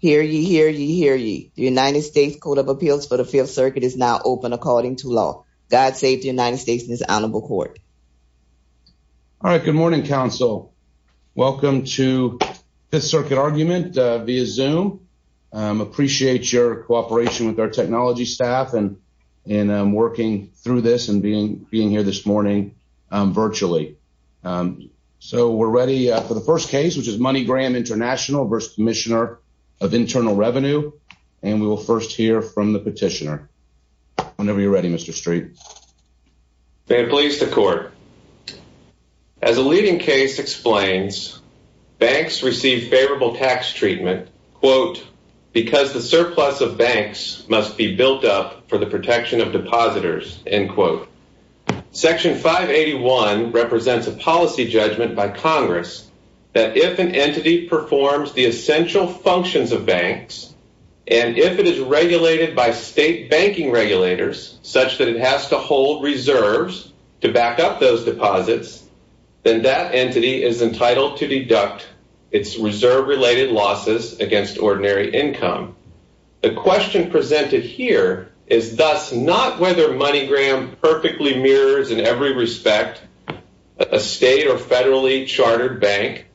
Hear ye, hear ye, hear ye. The United States Code of Appeals for the Fifth Circuit is now open according to law. God save the United States and his honorable court. All right, good morning, counsel. Welcome to Fifth Circuit Argument via Zoom. Appreciate your cooperation with our technology staff and in working through this and being here this morning virtually. So we're ready for the first case, which is MoneyGram International v. Commissioner of Internal Revenue, and we will first hear from the petitioner. Whenever you're ready, Mr. Street. May it please the court. As a leading case explains, banks receive favorable tax treatment, quote, because the surplus of banks must be built up for the protection of depositors, end quote. Section 581 represents a policy judgment by Congress that if an entity performs the essential functions of banks and if it is regulated by state banking regulators such that it has to hold reserves to back up those deposits, then that entity is entitled to deduct its reserve related losses against ordinary income. The question presented here is thus not whether MoneyGram perfectly mirrors in every respect a state or federally chartered bank,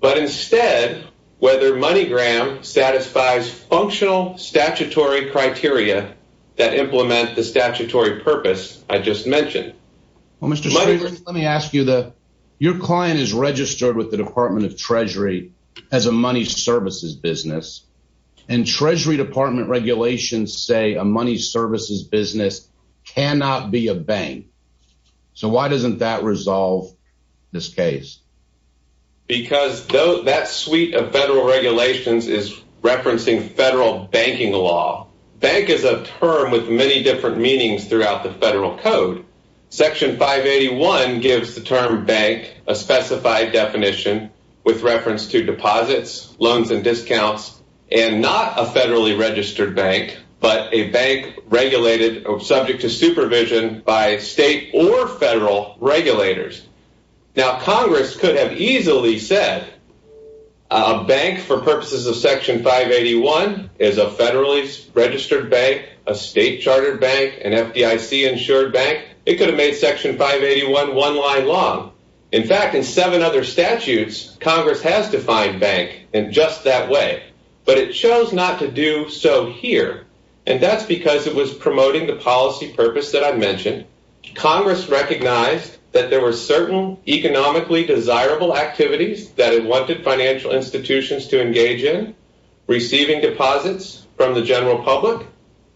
but instead whether MoneyGram satisfies functional statutory criteria that implement the statutory purpose I just mentioned. Well, Mr. Street, let me ask you, your client is registered with the Department of Treasury as a money services business, and Treasury Department regulations say a money services business cannot be a bank. So why doesn't that resolve this case? Because that suite of federal regulations is referencing federal banking law. Bank is a term with many different meanings throughout the federal code. Section 581 gives the term bank a specified definition with reference to deposits, loans, and discounts, and not a federally registered bank, but a bank regulated or subject to supervision by state or federal regulators. Now, Congress could have easily said a bank for purposes of Section 581 is a federally registered bank, a state chartered bank, an FDIC insured bank. It could have made Section 581 one line long. In fact, in seven other statutes, Congress has defined bank in just that way, but it chose not to do so here, and that's because it was promoting the policy purpose that I mentioned. Congress recognized that there were certain economically desirable activities that it wanted financial institutions to engage in, receiving deposits from the general public,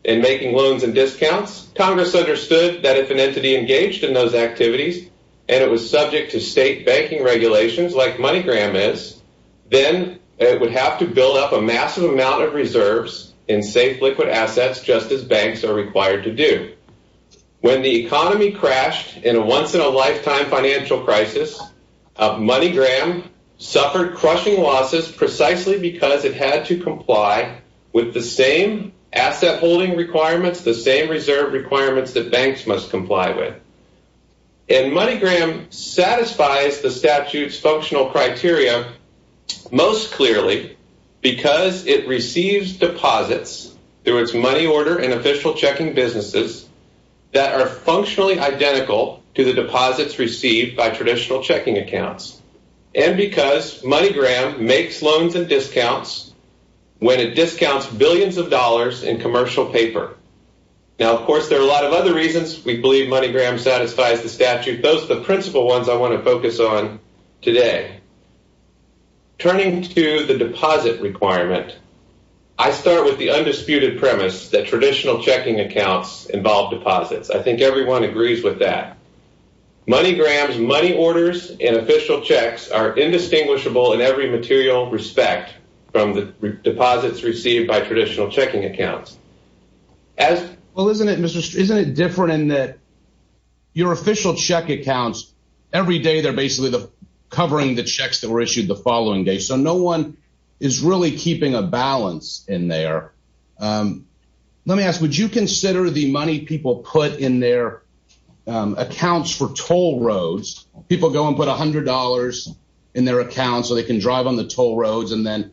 and making loans and discounts. Congress understood that if an entity engaged in those activities and it was subject to state banking regulations like MoneyGram is, then it would have to build up a massive amount of reserves and safe liquid assets just as banks are required to do. When the economy crashed in a once-in-a-lifetime financial crisis, MoneyGram suffered crushing losses precisely because it had to comply with the same asset holding requirements, the same reserve requirements that banks must comply with, and MoneyGram satisfies the statute's functional criteria most clearly because it receives deposits through its money order and official checking businesses that are functionally identical to the deposits received by traditional checking accounts, and because MoneyGram makes loans and discounts when it discounts billions of dollars in commercial paper. Now, of course, there are a lot of other reasons we believe MoneyGram satisfies the statute. Those are the principal ones I want to focus on today. Turning to the deposit requirement, I start with the undisputed premise that traditional checking accounts involve deposits. I think everyone agrees with that. MoneyGram's money orders and official checks are indistinguishable in every material respect from the deposits received by traditional checking accounts. Well, isn't it, isn't it different in that your official check accounts, every day they're basically covering the checks that were issued the following day, so no one is really keeping a balance in there. Let me ask, would you consider the money people put in their accounts for toll roads, people go and put a hundred dollars in their account so they can drive on the toll roads and then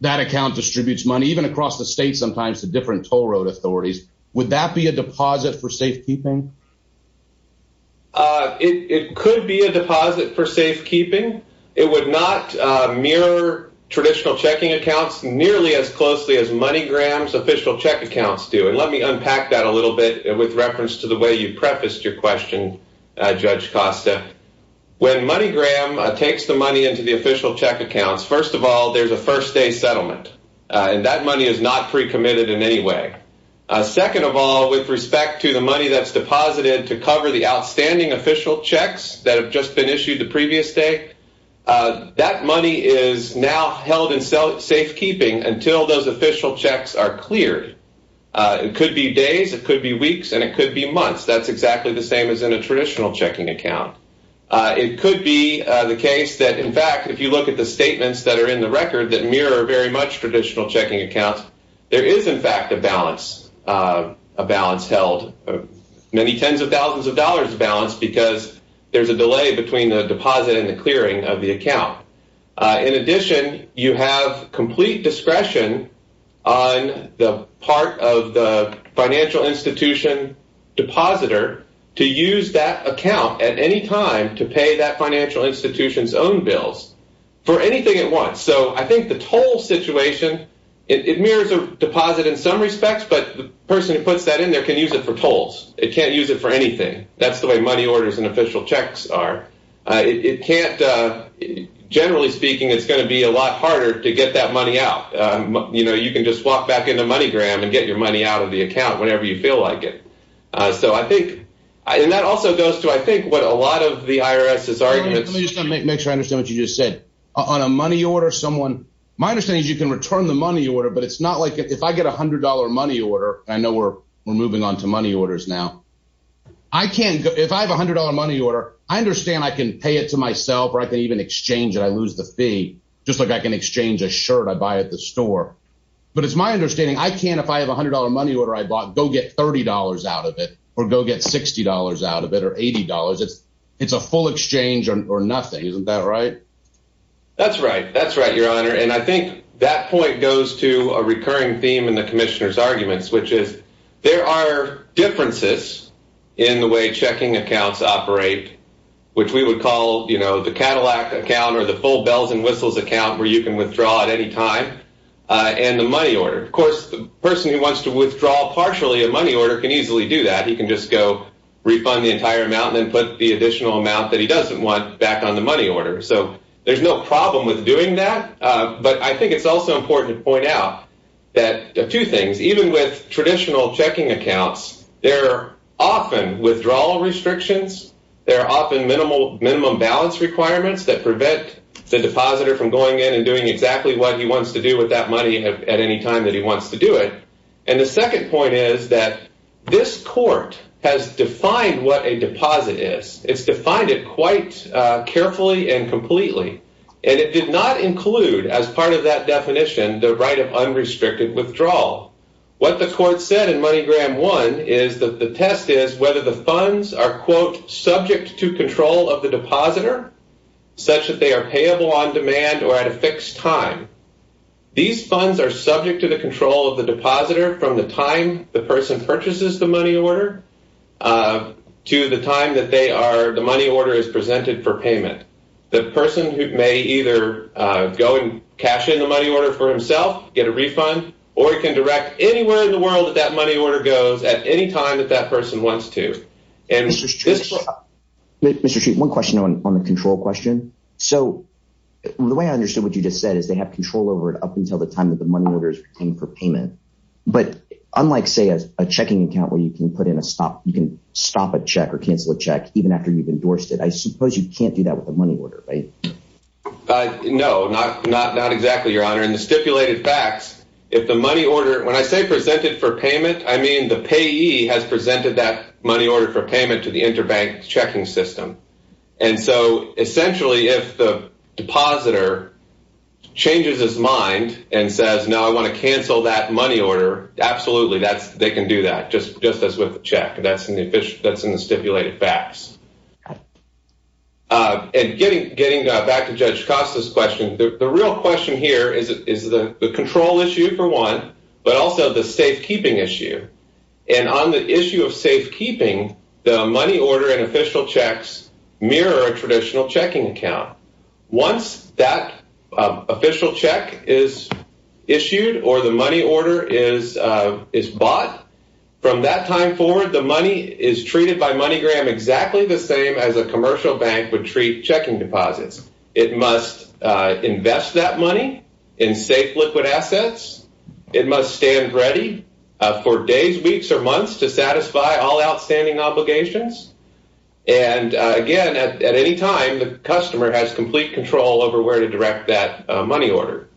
that account distributes money even across the state sometimes to different toll road authorities? Would that be a deposit for safekeeping? It could be a deposit for safekeeping. It would not mirror traditional checking accounts nearly as closely as MoneyGram's official check accounts do. And let me unpack that a little bit with reference to the way you prefaced your question, Judge Costa. When MoneyGram takes the money into the official check accounts, first of all, there's a first day settlement and that money is not pre-committed in any way. Second of all, with respect to the money that's deposited to cover the outstanding official checks that have just been issued the previous day, that money is now held in safekeeping until those official checks are cleared. It could be days, it could be weeks, and it could be months. That's exactly the same as in a traditional checking account. It could be the case that, in fact, if you look at the statements that are in the record that mirror very much traditional checking accounts, there is, in fact, a balance, a balance held, many tens of thousands of dollars of balance because there's a delay between the deposit and the clearing of the account. In addition, you have complete discretion on the part of the financial institution depositor to use that account at any for anything it wants. So I think the toll situation, it mirrors a deposit in some respects, but the person who puts that in there can use it for tolls. It can't use it for anything. That's the way money orders and official checks are. It can't, generally speaking, it's going to be a lot harder to get that money out. You know, you can just walk back into MoneyGram and get your money out of the account whenever you feel like it. So I think, and that also goes to, I think, what a lot of the IRS's arguments. Let me just make sure I understand what you just said. On a money order, someone, my understanding is you can return the money order, but it's not like if I get a $100 money order, I know we're moving on to money orders now. I can't, if I have a $100 money order, I understand I can pay it to myself or I can even exchange it. I lose the fee, just like I can exchange a shirt I buy at the store. But it's my understanding, I can't, if I have a $100 money order I bought, go get $30 out of it or go get $60 out of it or $80. It's a full exchange or nothing. Isn't that right? That's right. That's right, your honor. And I think that point goes to a recurring theme in the commissioner's arguments, which is there are differences in the way checking accounts operate, which we would call, you know, the Cadillac account or the full bells and whistles account where you can withdraw at any time and the money order. Of course, the person who wants to withdraw partially a money order can easily do that. He can just go refund the entire amount and then put the additional amount that he doesn't want back on the money order. So there's no problem with doing that. But I think it's also important to point out that two things, even with traditional checking accounts, there are often withdrawal restrictions. There are often minimum balance requirements that prevent the depositor from going in and doing exactly what he wants to do with that money at any time that he wants to do it. And the second point is that this court has defined what a deposit is. It's defined it quite carefully and completely. And it did not include, as part of that definition, the right of unrestricted withdrawal. What the court said in the definition is that a deposit is a depositor such that they are payable on demand or at a fixed time. These funds are subject to the control of the depositor from the time the person purchases the money order to the time that they are the money order is presented for payment. The person who may either go and cash in the money order for himself, get a refund, or he can direct anywhere in the world that that money order goes at any time that that person wants to. Mr. Street, one question on the control question. So the way I understood what you just said is they have control over it up until the time that the money order is obtained for payment. But unlike, say, a checking account where you can put in a stop, you can stop a check or cancel a check even after you've endorsed it, I suppose you can't do that with the money order, right? No, not exactly, Your Honor. In the stipulated facts, if the money order, when I say presented for payment, I mean the payee has presented that money order for payment to the interbank checking system. And so essentially, if the depositor changes his mind and says, no, I want to cancel that money order, absolutely, they can do that just as with the check. That's in the stipulated facts. And getting back to Judge Costa's question, the real question here is the control issue, for one, but also the safekeeping issue. And on the issue of safekeeping, the money order and official checks mirror a traditional checking account. Once that official check is issued or the money order is bought, from that time forward, the money is treated by MoneyGram exactly the same as a commercial bank would treat checking deposits. It must invest that money in safe liquid assets. It must stand ready for days, weeks, or months to satisfy all outstanding obligations. And again, at any time, the customer has complete control over where to direct that money order.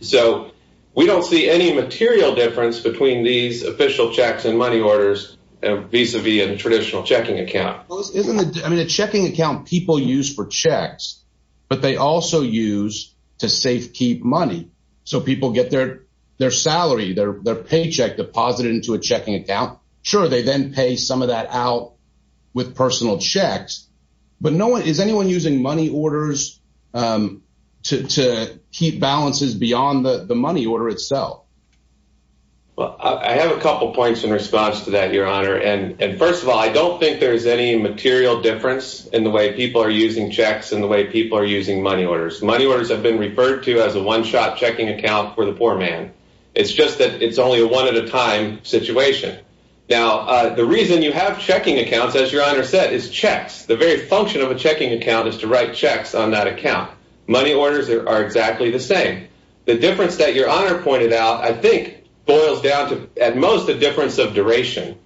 So we don't see any material difference between these official checks and money orders vis-a-vis a traditional checking account. I mean, a checking account people use for checks, but they also use to safekeep money. So people get their salary, their paycheck deposited into a checking account. Sure, they then pay some of that out with personal checks. But is anyone using money orders to keep balances beyond the money order itself? Well, I have a couple points in response to that, and first of all, I don't think there's any material difference in the way people are using checks and the way people are using money orders. Money orders have been referred to as a one-shot checking account for the poor man. It's just that it's only a one-at-a-time situation. Now, the reason you have checking accounts, as your honor said, is checks. The very function of a checking account is to write checks on that account. Money orders are exactly the same. The difference that your honor pointed out, I think, boils down to, at most, the difference of duration.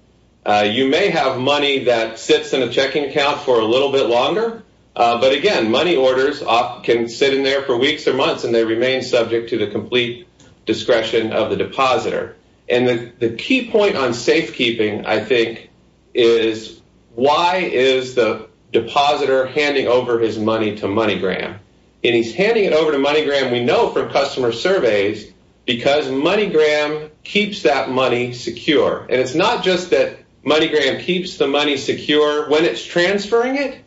You may have money that sits in a checking account for a little bit longer, but again, money orders can sit in there for weeks or months, and they remain subject to the complete discretion of the depositor. And the key point on safekeeping, I think, is why is the depositor handing over his money to MoneyGram? And he's handing it over to MoneyGram, we know from customer surveys, because MoneyGram keeps that money secure. And it's not just that MoneyGram keeps the money secure when it's transferring it,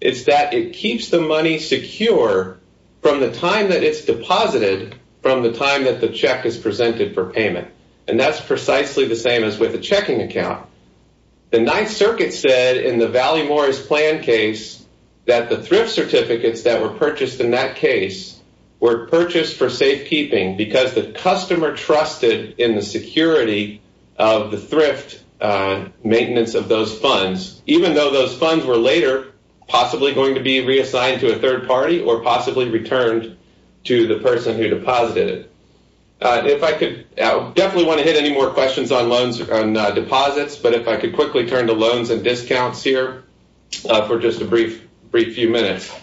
it's that it keeps the money secure from the time that it's deposited from the time that the check is presented for payment. And that's precisely the same as with a checking account. The Ninth Circuit said in the Valley case that the thrift certificates that were purchased in that case were purchased for safekeeping because the customer trusted in the security of the thrift maintenance of those funds, even though those funds were later possibly going to be reassigned to a third party or possibly returned to the person who deposited it. If I could, I definitely want to hit any more questions on deposits, but if I could quickly turn to loans and discounts here for just a brief few minutes.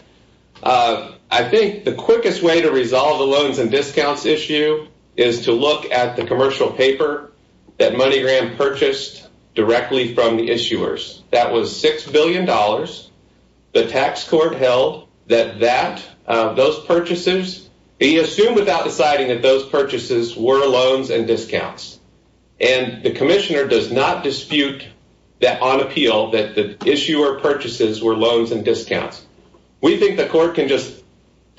I think the quickest way to resolve the loans and discounts issue is to look at the commercial paper that MoneyGram purchased directly from the issuers. That was $6 billion. The tax court held that those purchases, they assumed without deciding that those purchases were loans and discounts. And the commissioner does not dispute that on appeal that the issuer purchases were loans and discounts. We think the court can just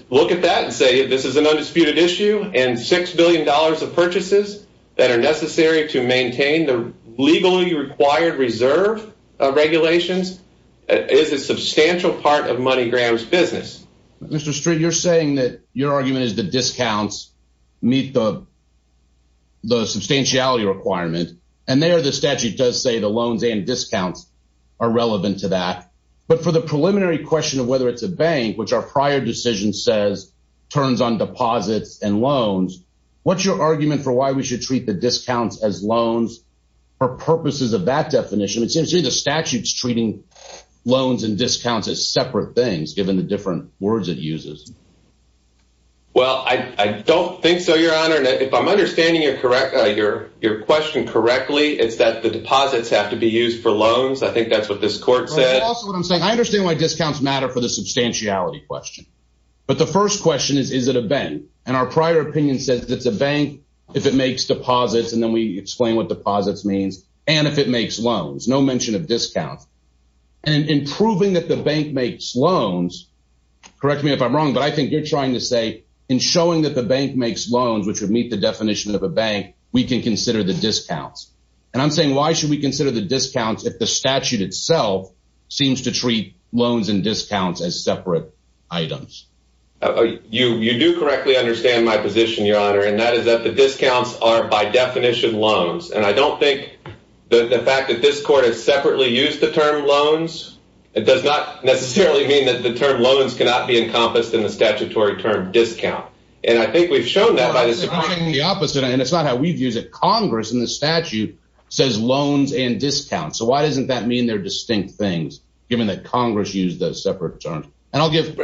look at that and say, this is an undisputed issue and $6 billion of purchases that are necessary to maintain the legally required reserve of regulations is a substantial part of MoneyGram's business. Mr. Street, you're saying that your argument is discounts meet the substantiality requirement, and there the statute does say the loans and discounts are relevant to that. But for the preliminary question of whether it's a bank, which our prior decision says turns on deposits and loans, what's your argument for why we should treat the discounts as loans for purposes of that definition? It seems to me the statute's treating loans and discounts as separate things, given the different words it uses. Well, I don't think so, Your Honor. And if I'm understanding your question correctly, it's that the deposits have to be used for loans. I think that's what this court said. That's also what I'm saying. I understand why discounts matter for the substantiality question. But the first question is, is it a bank? And our prior opinion says it's a bank if it makes deposits, and then we explain what deposits means, and if it makes loans. No mention of discounts. And in proving that the bank makes loans, correct me if I'm wrong, but I think you're trying to say in showing that the bank makes loans, which would meet the definition of a bank, we can consider the discounts. And I'm saying why should we consider the discounts if the statute itself seems to treat loans and discounts as separate items? You do correctly understand my position, Your Honor, and that is that the discounts are by definition loans. And I don't think that the fact that this court has separately used the term loans, it does not necessarily mean that the term loans cannot be encompassed in the statutory term discount. And I think we've shown that by the Supreme Court. Well, I'm saying the opposite, and it's not how we've used it. Congress in the statute says loans and discounts. So why doesn't that mean they're distinct things, given that Congress used those separate terms? And I'll give,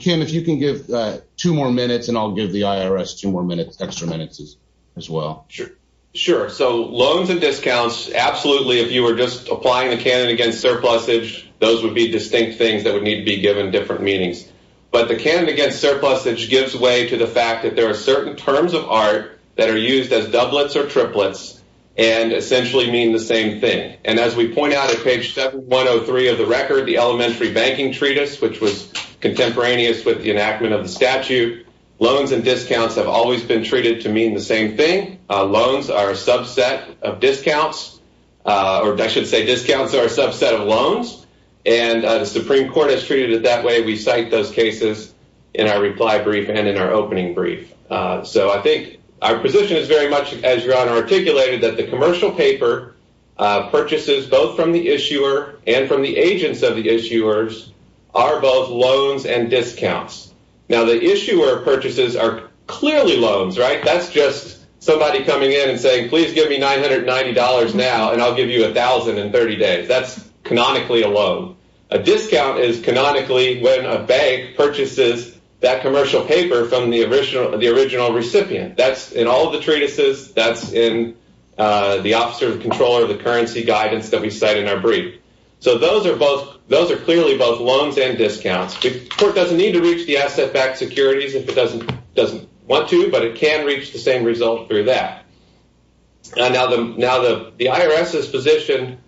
Kim, if you can give two more minutes, and I'll give the IRS two more minutes, extra minutes as well. Sure. Sure. So loans and discounts, absolutely, if you were just applying the canon against surplusage, those would be distinct things that would need to be given different meanings. But the canon against surplusage gives way to the fact that there are certain terms of art that are used as doublets or triplets and essentially mean the same thing. And as we point out at page 7103 of the record, the elementary banking treatise, which was contemporaneous with the enactment of the statute, loans and discounts have always been treated to mean the same thing. Loans are a subset of discounts, or I should say discounts are a subset of loans, and the Supreme Court has treated it that way. We cite those cases in our reply brief and in our opening brief. So I think our position is very much, as Your Honor articulated, that the commercial paper purchases, both from the issuer and from the agents of the issuers, are both loans and discounts. Now, the issuer purchases are clearly loans, right? That's just somebody coming in and saying, please give me $990 now, and I'll give you $1,000 in 30 days. That's canonically a loan. A discount is canonically when a bank purchases that commercial paper from the original recipient. That's in all of the treatises. That's in the officer of control or the currency guidance that we cite in our brief. So those are clearly both loans and discounts. The Court doesn't need to reach the asset-backed securities if it doesn't want to, but it can reach the same result through that. Now, the IRS's position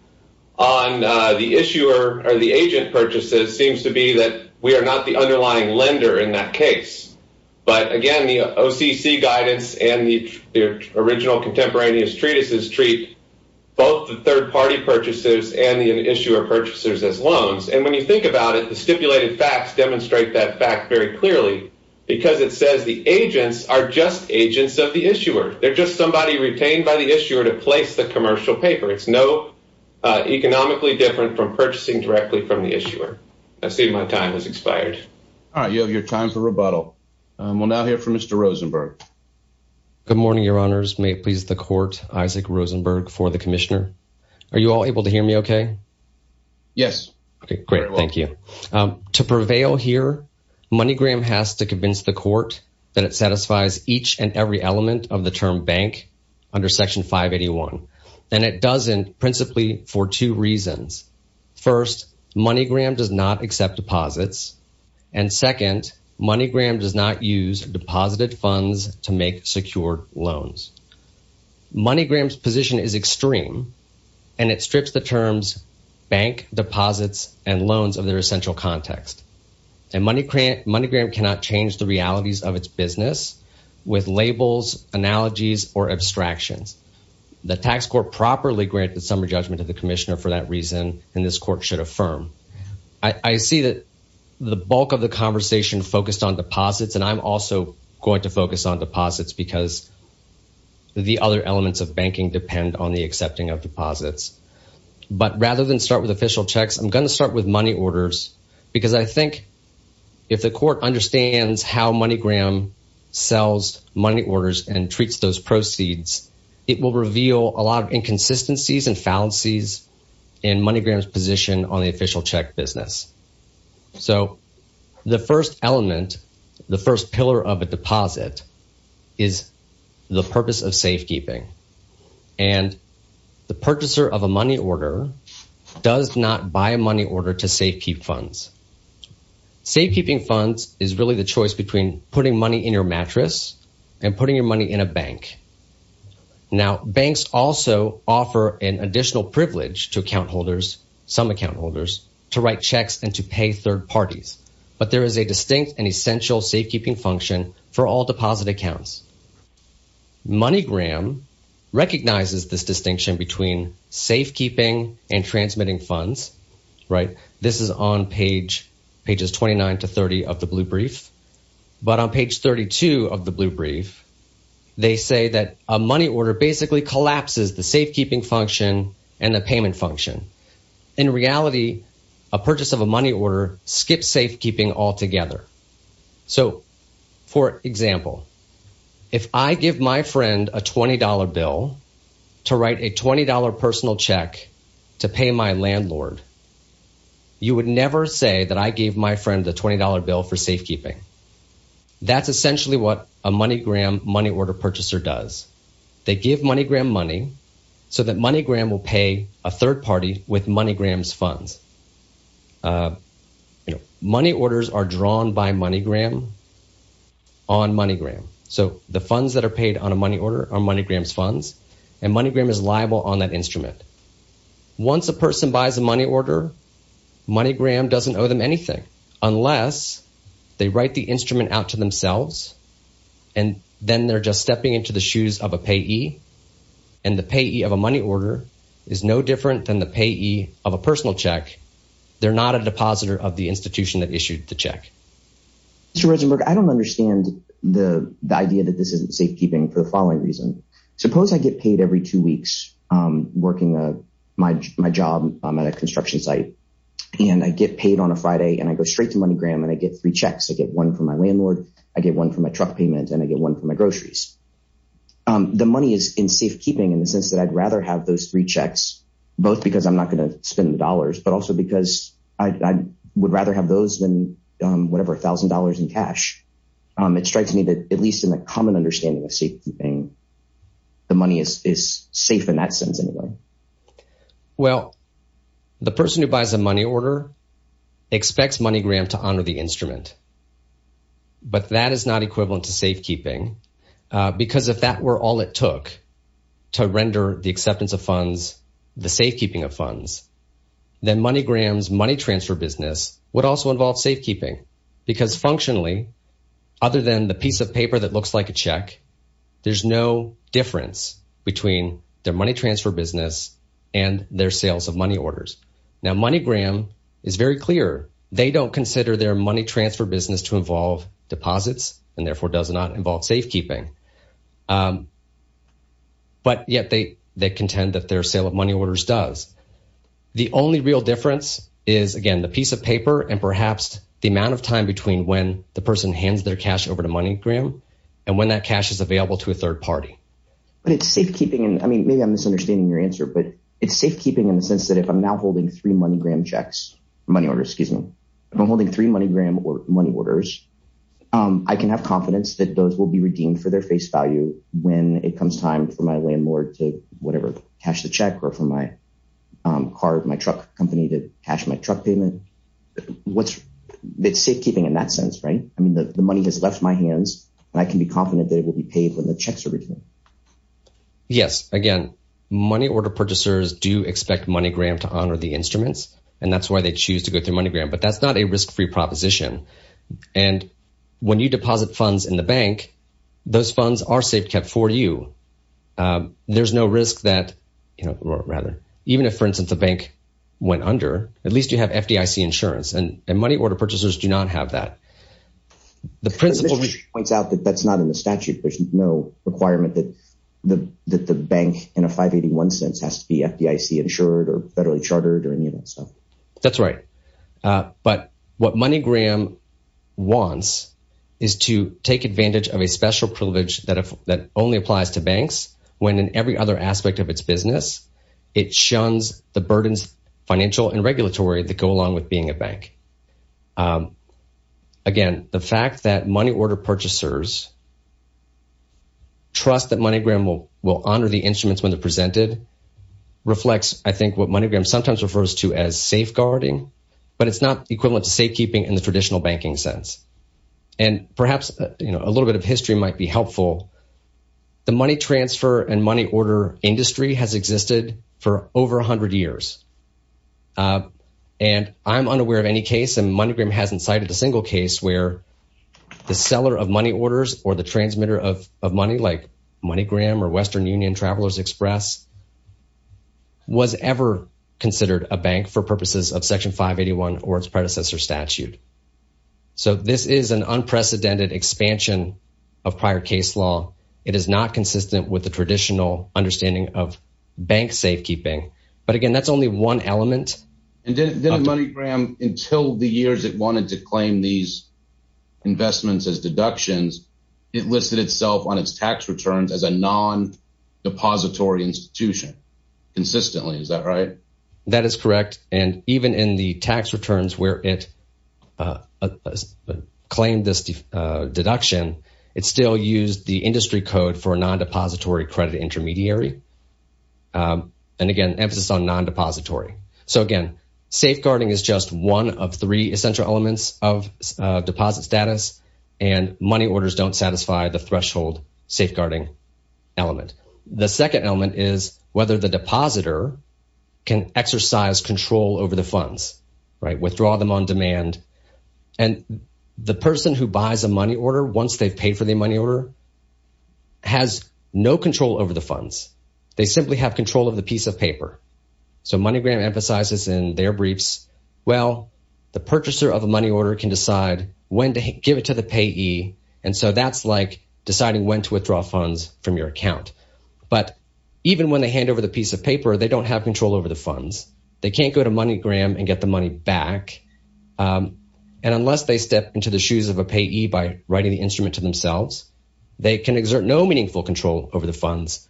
on the issuer or the agent purchases seems to be that we are not the underlying lender in that case. But again, the OCC guidance and the original contemporaneous treatises treat both the third-party purchases and the issuer purchases as loans. And when you think about it, the stipulated facts demonstrate that fact very clearly because it says the agents are just agents of the issuer. They're just somebody retained by the issuer to place the commercial paper. It's no economically different from purchasing directly from the issuer. I see my time has expired. All right, you have your time for rebuttal. We'll now hear from Mr. Rosenberg. Good morning, Your Honors. May it please the Court, Isaac Rosenberg for the Commissioner. Are you all able to hear me okay? Yes. Okay, great. Thank you. To prevail here, MoneyGram has to convince the Court that it satisfies each and every element of the term bank under Section 581. And it doesn't principally for two reasons. First, MoneyGram does not accept deposits. And second, MoneyGram does not use deposited funds to make secured loans. MoneyGram's position is extreme, and it strips the terms bank, deposits, and loans of their context. And MoneyGram cannot change the realities of its business with labels, analogies, or abstractions. The Tax Court properly granted summary judgment to the Commissioner for that reason, and this Court should affirm. I see that the bulk of the conversation focused on deposits, and I'm also going to focus on deposits because the other elements of banking depend on the accepting of deposits. But rather than start with official checks, I'm going to with money orders, because I think if the Court understands how MoneyGram sells money orders and treats those proceeds, it will reveal a lot of inconsistencies and fallacies in MoneyGram's position on the official check business. So the first element, the first pillar of a deposit, is the purpose of safekeeping. And the purchaser of a money order does not buy a money order to safekeep funds. Safekeeping funds is really the choice between putting money in your mattress and putting your money in a bank. Now, banks also offer an additional privilege to account holders, some account holders, to write checks and to pay third parties. But there is a distinct and important distinction between safekeeping and deposit accounts. MoneyGram recognizes this distinction between safekeeping and transmitting funds, right? This is on pages 29 to 30 of the Blue Brief. But on page 32 of the Blue Brief, they say that a money order basically collapses the safekeeping function and the payment function. In reality, a purchase of a money order skips safekeeping altogether. So, for example, if I give my friend a $20 bill to write a $20 personal check to pay my landlord, you would never say that I gave my friend the $20 bill for safekeeping. That's essentially what a MoneyGram money order purchaser does. They give MoneyGram money so that MoneyGram will pay a third party with MoneyGram's funds. Money orders are drawn by MoneyGram on MoneyGram. So the funds that are paid on a money order are MoneyGram's funds, and MoneyGram is liable on that instrument. Once a person buys a money order, MoneyGram doesn't owe them anything unless they write the instrument out to themselves, and then they're just stepping into the shoes of a payee, and the payee of a money order is no different than the payee of a personal check. They're not a depositor of the institution that issued the check. Mr. Rosenberg, I don't understand the idea that this isn't safekeeping for the following reason. Suppose I get paid every two weeks working my job at a construction site, and I get paid on a Friday, and I go straight to MoneyGram, and I get three checks. I get one for my landlord, I get one for my truck payment, and I get one for my groceries. The money is in safekeeping in the sense that I'd rather have those three checks, both because I'm not going to spend the dollars, but also because I would rather have those than whatever $1,000 in cash. It strikes me that at least in a common understanding of safekeeping, the money is safe in that sense anyway. Well, the person who buys a money order expects MoneyGram to honor the instrument, but that is not equivalent to safekeeping, because if that were all it took to render the acceptance of funds, the safekeeping of funds, then MoneyGram's money transfer business would also involve safekeeping, because functionally, other than the piece of paper that looks like a check, there's no difference between their money is very clear. They don't consider their money transfer business to involve deposits and therefore does not involve safekeeping, but yet they contend that their sale of money orders does. The only real difference is, again, the piece of paper and perhaps the amount of time between when the person hands their cash over to MoneyGram and when that cash is available to a third party. But it's safekeeping, and I mean, maybe I'm misunderstanding your answer, but it's safekeeping in the sense that if I'm now holding three MoneyGram checks, money orders, excuse me, if I'm holding three MoneyGram money orders, I can have confidence that those will be redeemed for their face value when it comes time for my landlord to whatever, cash the check or for my car, my truck company to cash my truck payment. It's safekeeping in that sense, right? I mean, the money has left my hands and I can be confident that it will be paid when the checks are redeemed. Yes. Again, money order purchasers do expect MoneyGram to honor the instruments, and that's why they choose to go through MoneyGram, but that's not a risk-free proposition. And when you deposit funds in the bank, those funds are safekept for you. There's no risk that, you know, or rather, even if, for instance, the bank went under, at least you have FDIC insurance and money order purchasers do not have that. The principle points out that that's not in the statute. There's no requirement that the bank in 581 cents has to be FDIC insured or federally chartered or any of that stuff. That's right. But what MoneyGram wants is to take advantage of a special privilege that only applies to banks, when in every other aspect of its business, it shuns the burdens, financial and regulatory, that go along with being a bank. Again, the fact that money order purchasers trust that MoneyGram will honor the instruments when they're presented reflects, I think, what MoneyGram sometimes refers to as safeguarding, but it's not equivalent to safekeeping in the traditional banking sense. And perhaps, you know, a little bit of history might be helpful. The money transfer and money order industry has existed for over 100 years. And I'm unaware of any case, and MoneyGram hasn't cited a single case where the seller of money orders or the transmitter of money like MoneyGram or Western Union Travelers Express was ever considered a bank for purposes of Section 581 or its predecessor statute. So this is an unprecedented expansion of prior case law. It is not consistent with the traditional understanding of bank safekeeping. But again, that's only one element. And then MoneyGram, until the years it wanted to claim these investments as deductions, it listed itself on its tax returns as a non-depository institution. Consistently, is that right? That is correct. And even in the tax returns where it claimed this deduction, it still used the industry code for a non-depository credit intermediary. And again, emphasis on non-depository. So again, safeguarding is just one of three essential elements of deposit status. And money orders don't satisfy the threshold safeguarding element. The second element is whether the depositor can exercise control over the funds, right? Withdraw them on demand. And the person who buys a money order once they've paid for the money order has no control over the funds. They simply have control of the piece of paper. So MoneyGram emphasizes in their briefs, well, the purchaser of a money order can decide when to give it to the payee. And so that's like deciding when to withdraw funds from your account. But even when they hand over the piece of paper, they don't have control over the funds. They can't go to MoneyGram and get the money back. And unless they step into the shoes of a payee by writing the they can exert no meaningful control over the funds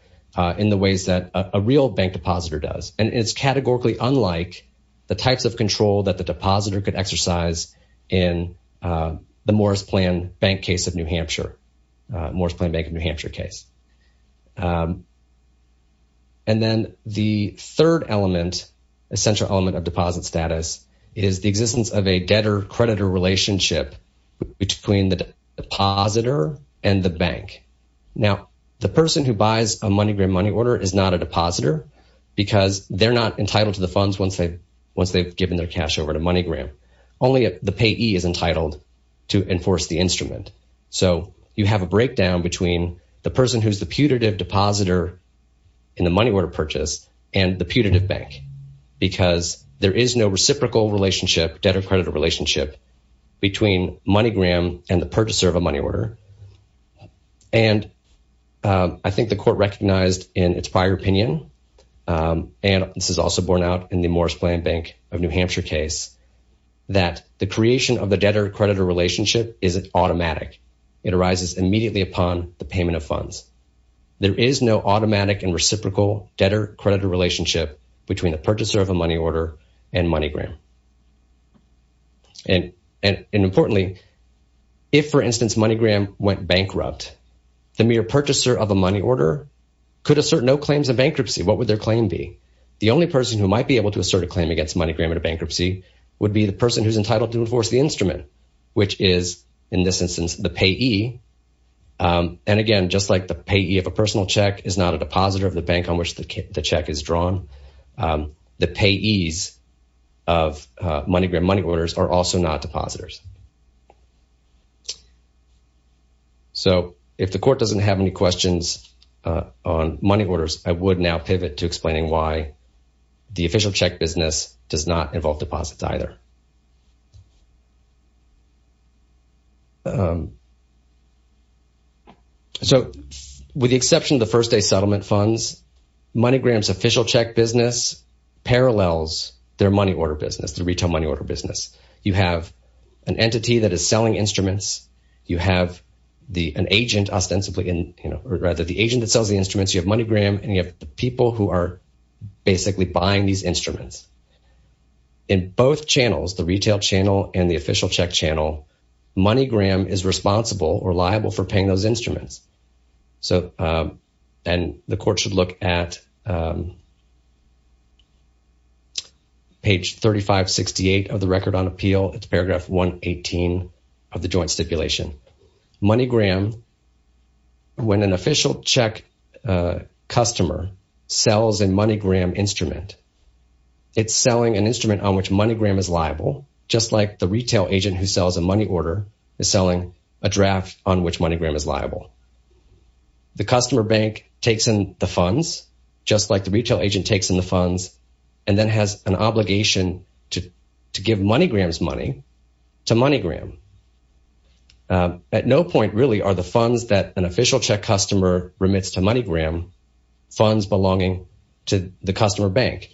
in the ways that a real bank depositor does. And it's categorically unlike the types of control that the depositor could exercise in the Morris Plan Bank case of New Hampshire, Morris Plan Bank of New Hampshire case. And then the third element, essential element of deposit status is the existence of a debtor creditor relationship between the depositor and the bank. Now, the person who buys a MoneyGram money order is not a depositor because they're not entitled to the funds once they've given their cash over to MoneyGram. Only the payee is entitled to enforce the instrument. So you have a breakdown between the person who's the putative depositor in the money order purchase and the reciprocal relationship, debtor creditor relationship between MoneyGram and the purchaser of a money order. And I think the court recognized in its prior opinion, and this is also borne out in the Morris Plan Bank of New Hampshire case, that the creation of the debtor creditor relationship is automatic. It arises immediately upon the payment of funds. There is no automatic and reciprocal debtor creditor relationship between the purchaser of a money order and MoneyGram. And importantly, if, for instance, MoneyGram went bankrupt, the mere purchaser of a money order could assert no claims of bankruptcy. What would their claim be? The only person who might be able to assert a claim against MoneyGram at a bankruptcy would be the person who's entitled to enforce the instrument, which is, in this instance, the payee. And again, just like the payee of a personal check is not a depositor of the bank on which the check is drawn, the payees of MoneyGram money orders are also not depositors. So, if the court doesn't have any questions on money orders, I would now pivot to explaining why the official check business does not involve deposits either. So, with the exception of the first day settlement funds, MoneyGram's official check business parallels their money order business, the retail money order business. You have an entity that is selling instruments. You have an agent ostensibly in, you know, rather the agent that sells the instruments. You have MoneyGram and you have the people who are basically buying these instruments. The retail channel and the official check channel, MoneyGram is responsible or liable for paying those instruments. So, and the court should look at page 3568 of the Record on Appeal. It's paragraph 118 of the Joint Stipulation. MoneyGram, when an official check customer sells a MoneyGram instrument, it's selling an instrument on which MoneyGram is liable, just like the retail agent who sells a money order is selling a draft on which MoneyGram is liable. The customer bank takes in the funds, just like the retail agent takes in the funds, and then has an obligation to give MoneyGram's money to MoneyGram. At no point, really, are the funds that an official check remits to MoneyGram funds belonging to the customer bank.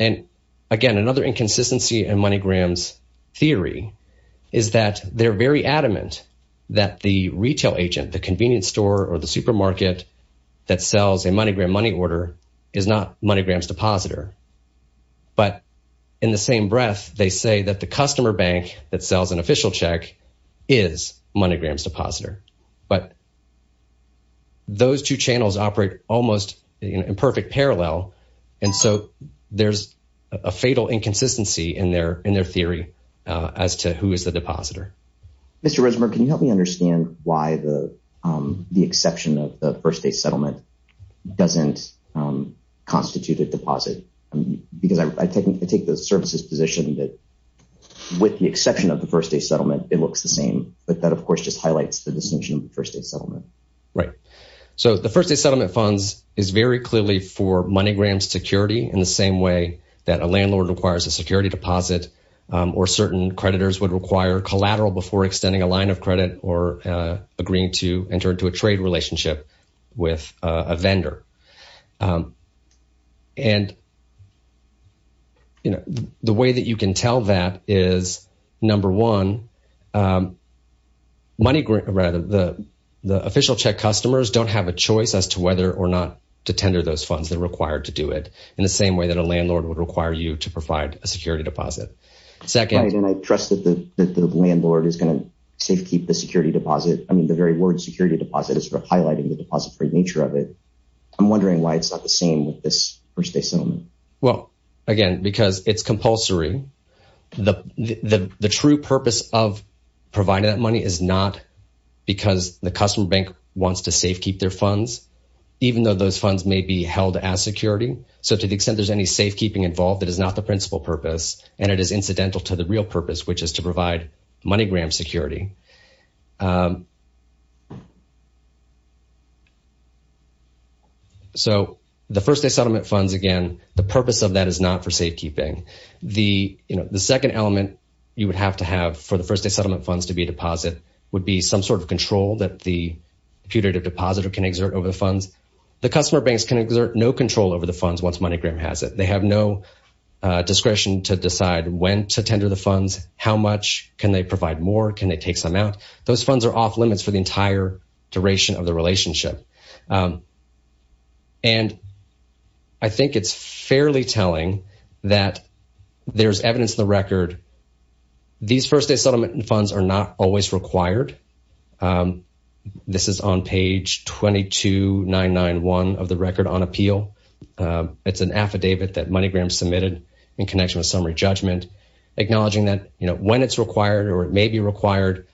And again, another inconsistency in MoneyGram's theory is that they're very adamant that the retail agent, the convenience store or the supermarket that sells a MoneyGram money order is not MoneyGram's depositor. But in the same breath, they say that the customer bank that sells an official check is MoneyGram's depositor. But those two channels operate almost in perfect parallel. And so there's a fatal inconsistency in their theory as to who is the depositor. Mr. Resimer, can you help me understand why the exception of the first day settlement doesn't constitute a deposit? Because I take the services position that with the exception of the first day settlement, it looks the same. But that, of course, just highlights the distinction of the first day settlement. Right. So the first day settlement funds is very clearly for MoneyGram's security in the same way that a landlord requires a security deposit or certain creditors would require collateral before extending a line of credit or agreeing to enter into a trade relationship with a vendor. And, you know, the way that you can tell that is, number one, MoneyGram, rather, the official check customers don't have a choice as to whether or not to tender those funds that are required to do it in the same way that a landlord would require you to provide a security deposit. Second, I trust that the landlord is going to safekeep the security deposit. I mean, the very word security deposit is highlighting the deposit free nature of it. I'm wondering why it's not the same with this first day settlement. Well, again, because it's compulsory. The true purpose of providing that money is not because the customer bank wants to safekeep their funds, even though those funds may be held as security. So to the extent there's any safekeeping involved, that is not the principal purpose. And it is incidental to the real purpose, which is to provide MoneyGram security. So the first day settlement funds, again, the purpose of that is not for safekeeping. The second element you would have to have for the first day settlement funds to be a deposit would be some sort of control that the putative depositor can exert over the funds. The customer banks can exert no control over the funds once MoneyGram has it. They have no discretion to decide when to tender the funds, how much, can they provide more, can they take some out. Those funds are off limits for the entire duration of the relationship. And I think it's fairly telling that there's evidence in the record, these first day settlement funds are not always required. This is on page 22991 of the Record on Appeal. It's an affidavit that MoneyGram submitted in connection with summary judgment, acknowledging that when it's required or it may be required,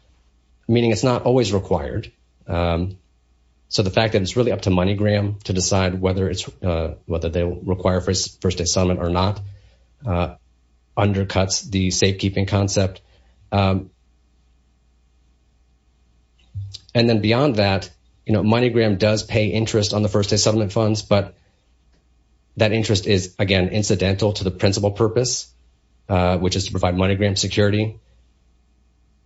meaning it's not always required. So the fact that it's really up to MoneyGram to decide whether they require first day settlement or not undercuts the safekeeping concept. And then beyond that, MoneyGram does pay interest on the first day settlement funds, but that interest is, again, incidental to the principal purpose, which is to provide MoneyGram security.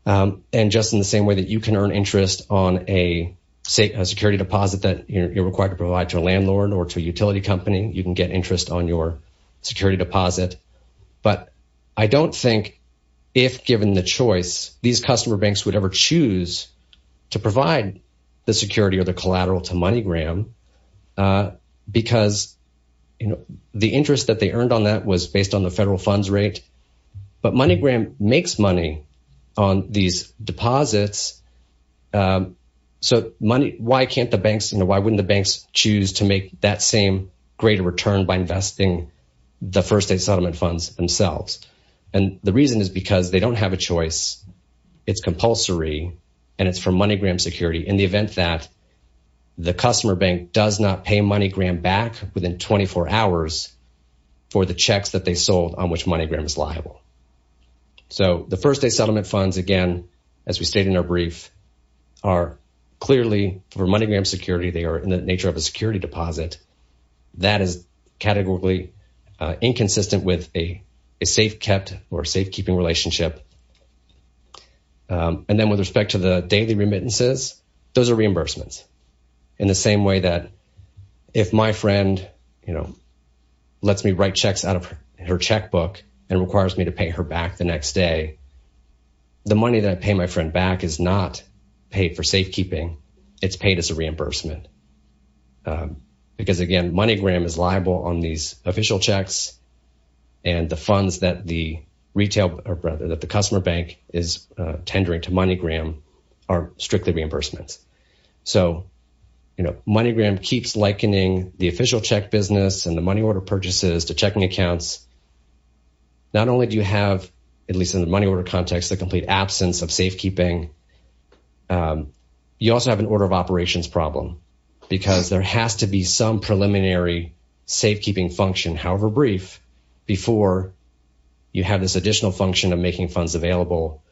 And just in the same way that you can earn interest on a security deposit that you're required to provide to a landlord or to a utility company, you can get interest on your security deposit. But I don't think if given the choice, these customer banks would ever choose to provide the security or the collateral to MoneyGram because the interest that they earned on that was based on the federal funds rate. But MoneyGram makes money on these deposits. So money, why can't the banks, you know, why wouldn't the banks choose to make that same greater return by investing the first day settlement funds themselves? And the reason is because they don't have a choice. It's compulsory and it's for MoneyGram security in the event that the customer bank does not pay MoneyGram back within 24 hours for the checks that they sold on which MoneyGram is liable. So the first day settlement funds, again, as we stated in our brief, are clearly for MoneyGram security, they are in the nature of a security deposit that is categorically inconsistent with a safe-kept or safekeeping relationship. And then with respect to the daily remittances, those are reimbursements in the same way that if my friend, you know, lets me write checks out of her checkbook and requires me to pay her back the next day, the money that I pay my friend back is not paid for safekeeping, it's paid as a reimbursement. Because again, MoneyGram is liable on these official checks and the funds that the customer bank is tendering to MoneyGram are strictly reimbursements. So, you know, MoneyGram keeps likening the official check business and the money order purchases to checking accounts. Not only do you have, at least in the money order context, the complete absence of safekeeping, you also have an order of operations problem because there has to be some preliminary safekeeping function, however brief, before you have this additional function of making funds available,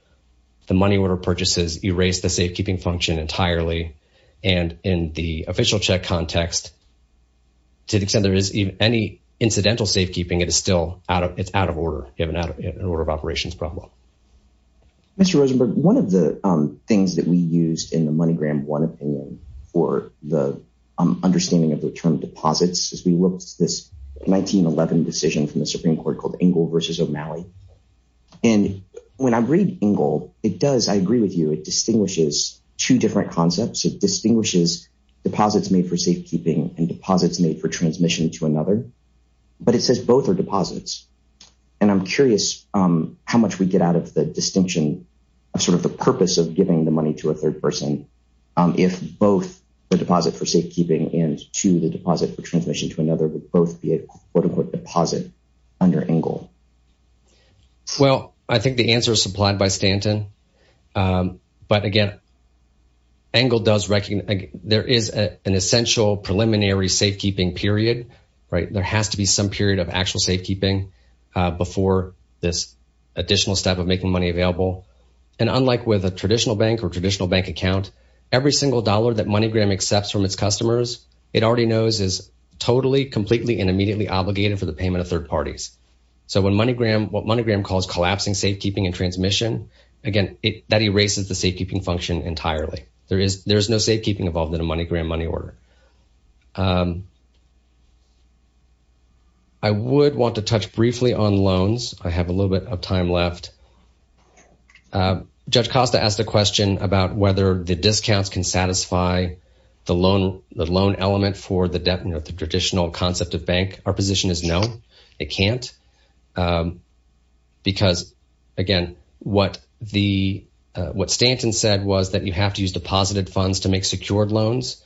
the money order purchases erase the safekeeping function entirely. And in the official check context, to the extent there is any incidental safekeeping, it is still out of, it's out of order. You have an order of operations problem. Mr. Rosenberg, one of the things that we used in the MoneyGram 1 opinion for the understanding of the term deposits is we looked at this 1911 decision from the Supreme Court called Ingle versus O'Malley. And when I read Ingle, it does, I agree with you, it distinguishes two different concepts. It distinguishes deposits made for safekeeping and deposits made for transmission to another. But it says both are deposits. And I'm curious how much we get out of the distinction of sort of the purpose of giving the money to a third person if both the deposit for safekeeping and to the deposit for transmission to another would both be a quote unquote deposit under Ingle? Well, I think the answer is supplied by Stanton. But again, Ingle does recognize, there is an essential preliminary safekeeping period, right? There has to be some period of actual safekeeping before this additional step of making money available. And unlike with a traditional bank or traditional bank account, every single dollar that MoneyGram accepts from its customers, it already knows is totally, completely, and immediately obligated for the payment of third parties. So when MoneyGram, what MoneyGram calls collapsing safekeeping and transmission, again, that erases the safekeeping function entirely. There is no safekeeping involved in a MoneyGram money order. I would want to touch briefly on loans. I have a little bit of time left. Judge Costa asked a question about whether the discounts can satisfy the loan element for the traditional concept of bank. Our position is no, it can't. Because again, what Stanton said was that you have to use deposited funds to make secured loans.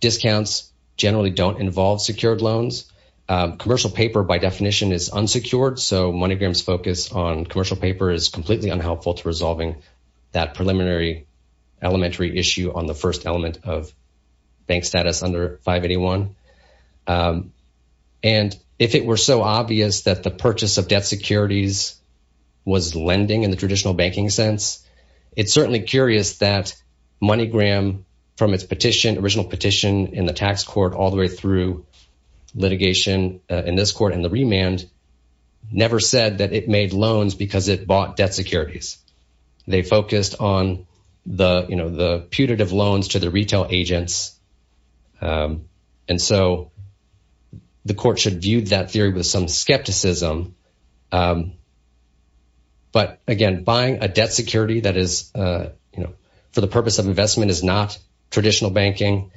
Discounts generally don't involve secured loans. Commercial paper by definition is unsecured. So MoneyGram's focus on commercial paper is completely unhelpful to resolving that preliminary elementary issue on the first element of bank status under 581. And if it were so obvious that the purchase of debt securities was lending in the traditional banking sense, it's certainly curious that MoneyGram, from its petition, original petition in the tax court all the way through litigation in this court and the remand, never said that it made loans because it bought debt securities. They focused on the putative loans to the retail agents. And so the court should view that theory with some skepticism. But again, buying a debt security that is for the purpose of investment is not traditional banking.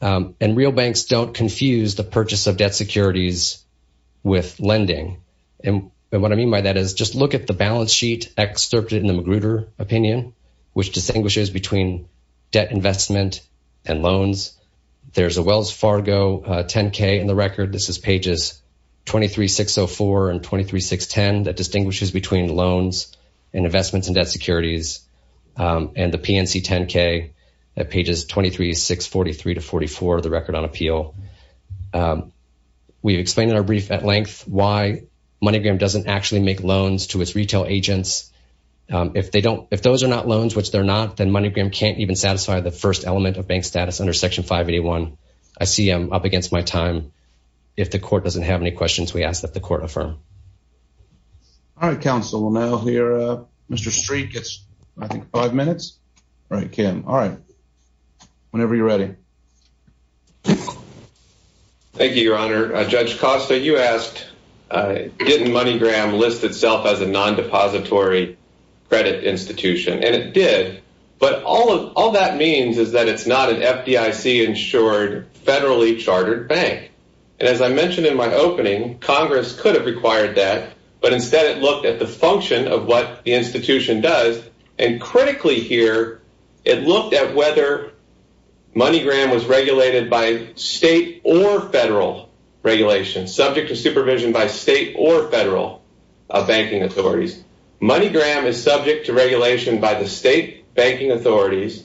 And real banks don't confuse the purchase of debt securities with lending. And what I mean by that is just look at the balance sheet excerpted in the Magruder opinion, which distinguishes between debt investment and loans. There's a Wells Fargo 10-K in the record. This is pages 23604 and 23610 that distinguishes between loans and investments in debt securities and the PNC 10-K at pages 23643 to 44 of the brief at length why MoneyGram doesn't actually make loans to its retail agents. If they don't, if those are not loans, which they're not, then MoneyGram can't even satisfy the first element of bank status under Section 581. I see I'm up against my time. If the court doesn't have any questions, we ask that the court affirm. All right, counsel. We'll now hear Mr. Streit gets, I think, five minutes. All right, Kim. All right. Whenever you're ready. Thank you, Your Honor. Judge Costa, you asked, didn't MoneyGram list itself as a non-depository credit institution? And it did. But all that means is that it's not an FDIC-insured, federally chartered bank. And as I mentioned in my opening, Congress could have required that, but instead it looked at the function of what the institution does. And critically here, it looked at whether MoneyGram was regulated by state or federal regulations, subject to supervision by state or federal banking authorities. MoneyGram is subject to regulation by the state banking authorities,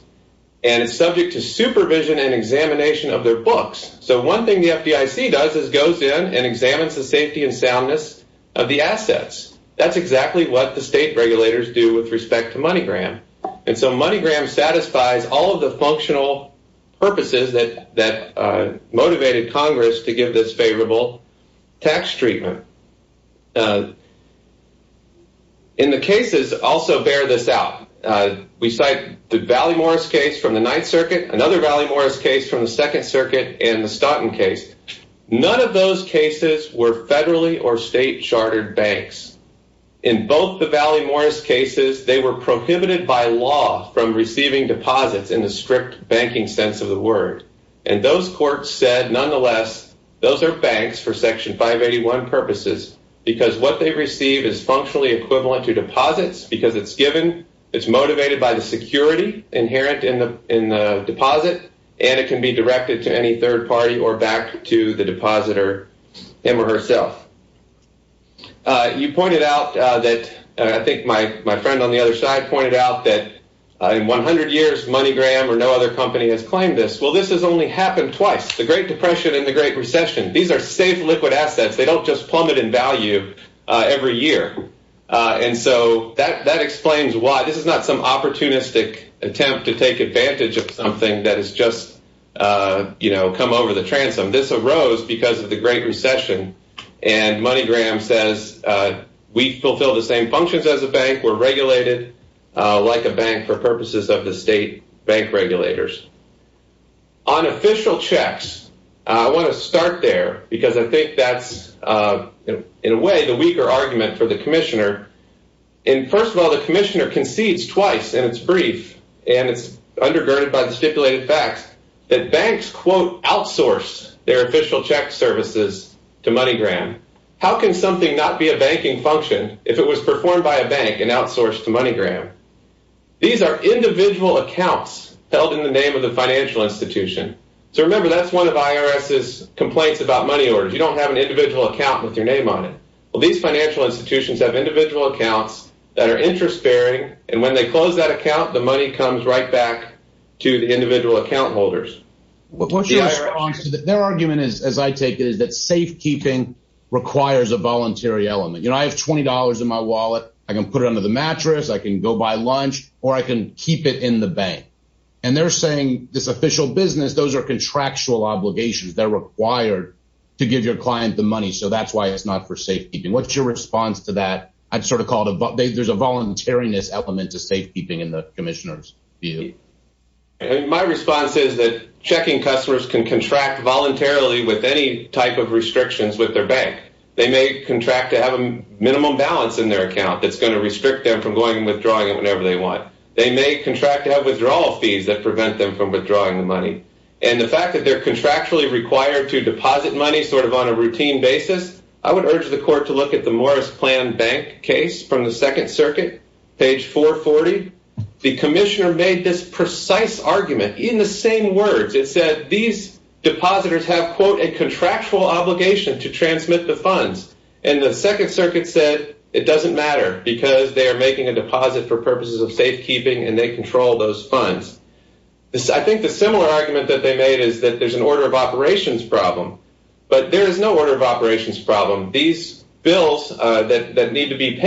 and it's subject to supervision and examination of their books. So one thing the FDIC does is goes in and examines the safety and soundness of the assets. That's what the state regulators do with respect to MoneyGram. And so MoneyGram satisfies all of the functional purposes that motivated Congress to give this favorable tax treatment. In the cases also bear this out. We cite the Valley Morris case from the Ninth Circuit, another Valley Morris case from the Second Circuit, and the Stoughton case. None of those cases were federally or state chartered banks. In both the Valley Morris cases, they were prohibited by law from receiving deposits in the strict banking sense of the word. And those courts said, nonetheless, those are banks for Section 581 purposes, because what they receive is functionally equivalent to deposits, because it's given, it's motivated by the security inherent in the deposit, and it can be directed to any third party or back to the depositor him or herself. You pointed out that, I think my friend on the other side pointed out that in 100 years MoneyGram or no other company has claimed this. Well, this has only happened twice, the Great Depression and the Great Recession. These are safe liquid assets. They don't just plummet in value every year. And so that explains why this is not some transom. This arose because of the Great Recession. And MoneyGram says, we fulfill the same functions as a bank. We're regulated like a bank for purposes of the state bank regulators. On official checks, I want to start there, because I think that's, in a way, the weaker argument for the Commissioner. And first of all, the Commissioner concedes twice in its brief, and it's undergirded by the stipulated facts, that banks, quote, outsource their official check services to MoneyGram. How can something not be a banking function if it was performed by a bank and outsourced to MoneyGram? These are individual accounts held in the name of the financial institution. So remember, that's one of IRS's complaints about money orders. You don't have an individual account with your name on it. Well, these financial institutions have individual accounts that are interest-bearing, and when they close that account, the money comes right back to the individual account holders. Their argument is, as I take it, is that safekeeping requires a voluntary element. You know, I have $20 in my wallet. I can put it under the mattress, I can go buy lunch, or I can keep it in the bank. And they're saying this official business, those are contractual obligations. They're required to give your client the money. So that's why it's not for there's a voluntariness element to safekeeping in the commissioner's view. My response is that checking customers can contract voluntarily with any type of restrictions with their bank. They may contract to have a minimum balance in their account that's going to restrict them from going and withdrawing it whenever they want. They may contract to have withdrawal fees that prevent them from withdrawing the money. And the fact that they're contractually required to deposit money sort of on a routine basis, I would urge the court to look at the second circuit, page 440. The commissioner made this precise argument in the same words. It said these depositors have, quote, a contractual obligation to transmit the funds. And the second circuit said it doesn't matter because they are making a deposit for purposes of safekeeping and they control those funds. I think the similar argument that they made is that there's an order of operations problem. But there is no order of operations problem. These bills that need to be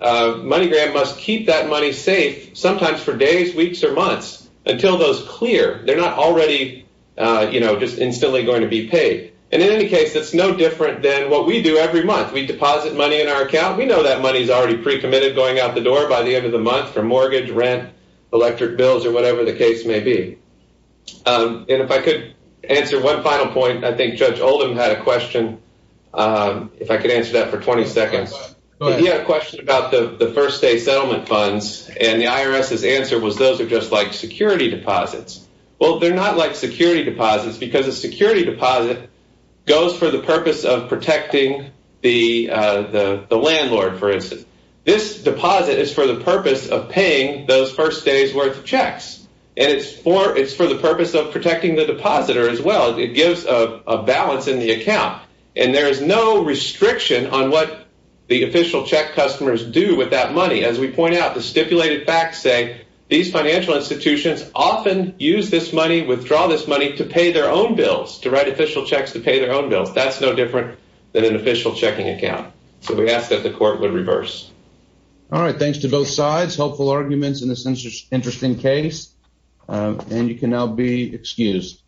MoneyGram must keep that money safe sometimes for days, weeks, or months until those clear. They're not already, you know, just instantly going to be paid. And in any case, it's no different than what we do every month. We deposit money in our account. We know that money is already pre-committed going out the door by the end of the month for mortgage, rent, electric bills, or whatever the case may be. And if I could answer one final point, I think Judge Oldham had a question, if I could answer that for 20 seconds. He had a question about the first day settlement funds. And the IRS's answer was those are just like security deposits. Well, they're not like security deposits because a security deposit goes for the purpose of protecting the landlord, for instance. This deposit is for the purpose of paying those first day's worth of checks. And it's for the purpose of protecting the depositor as well. It gives a balance in the restriction on what the official check customers do with that money. As we point out, the stipulated facts say these financial institutions often use this money, withdraw this money to pay their own bills, to write official checks to pay their own bills. That's no different than an official checking account. So we ask that the court would reverse. All right. Thanks to both sides. Helpful arguments in this interesting case. And you can now be excused.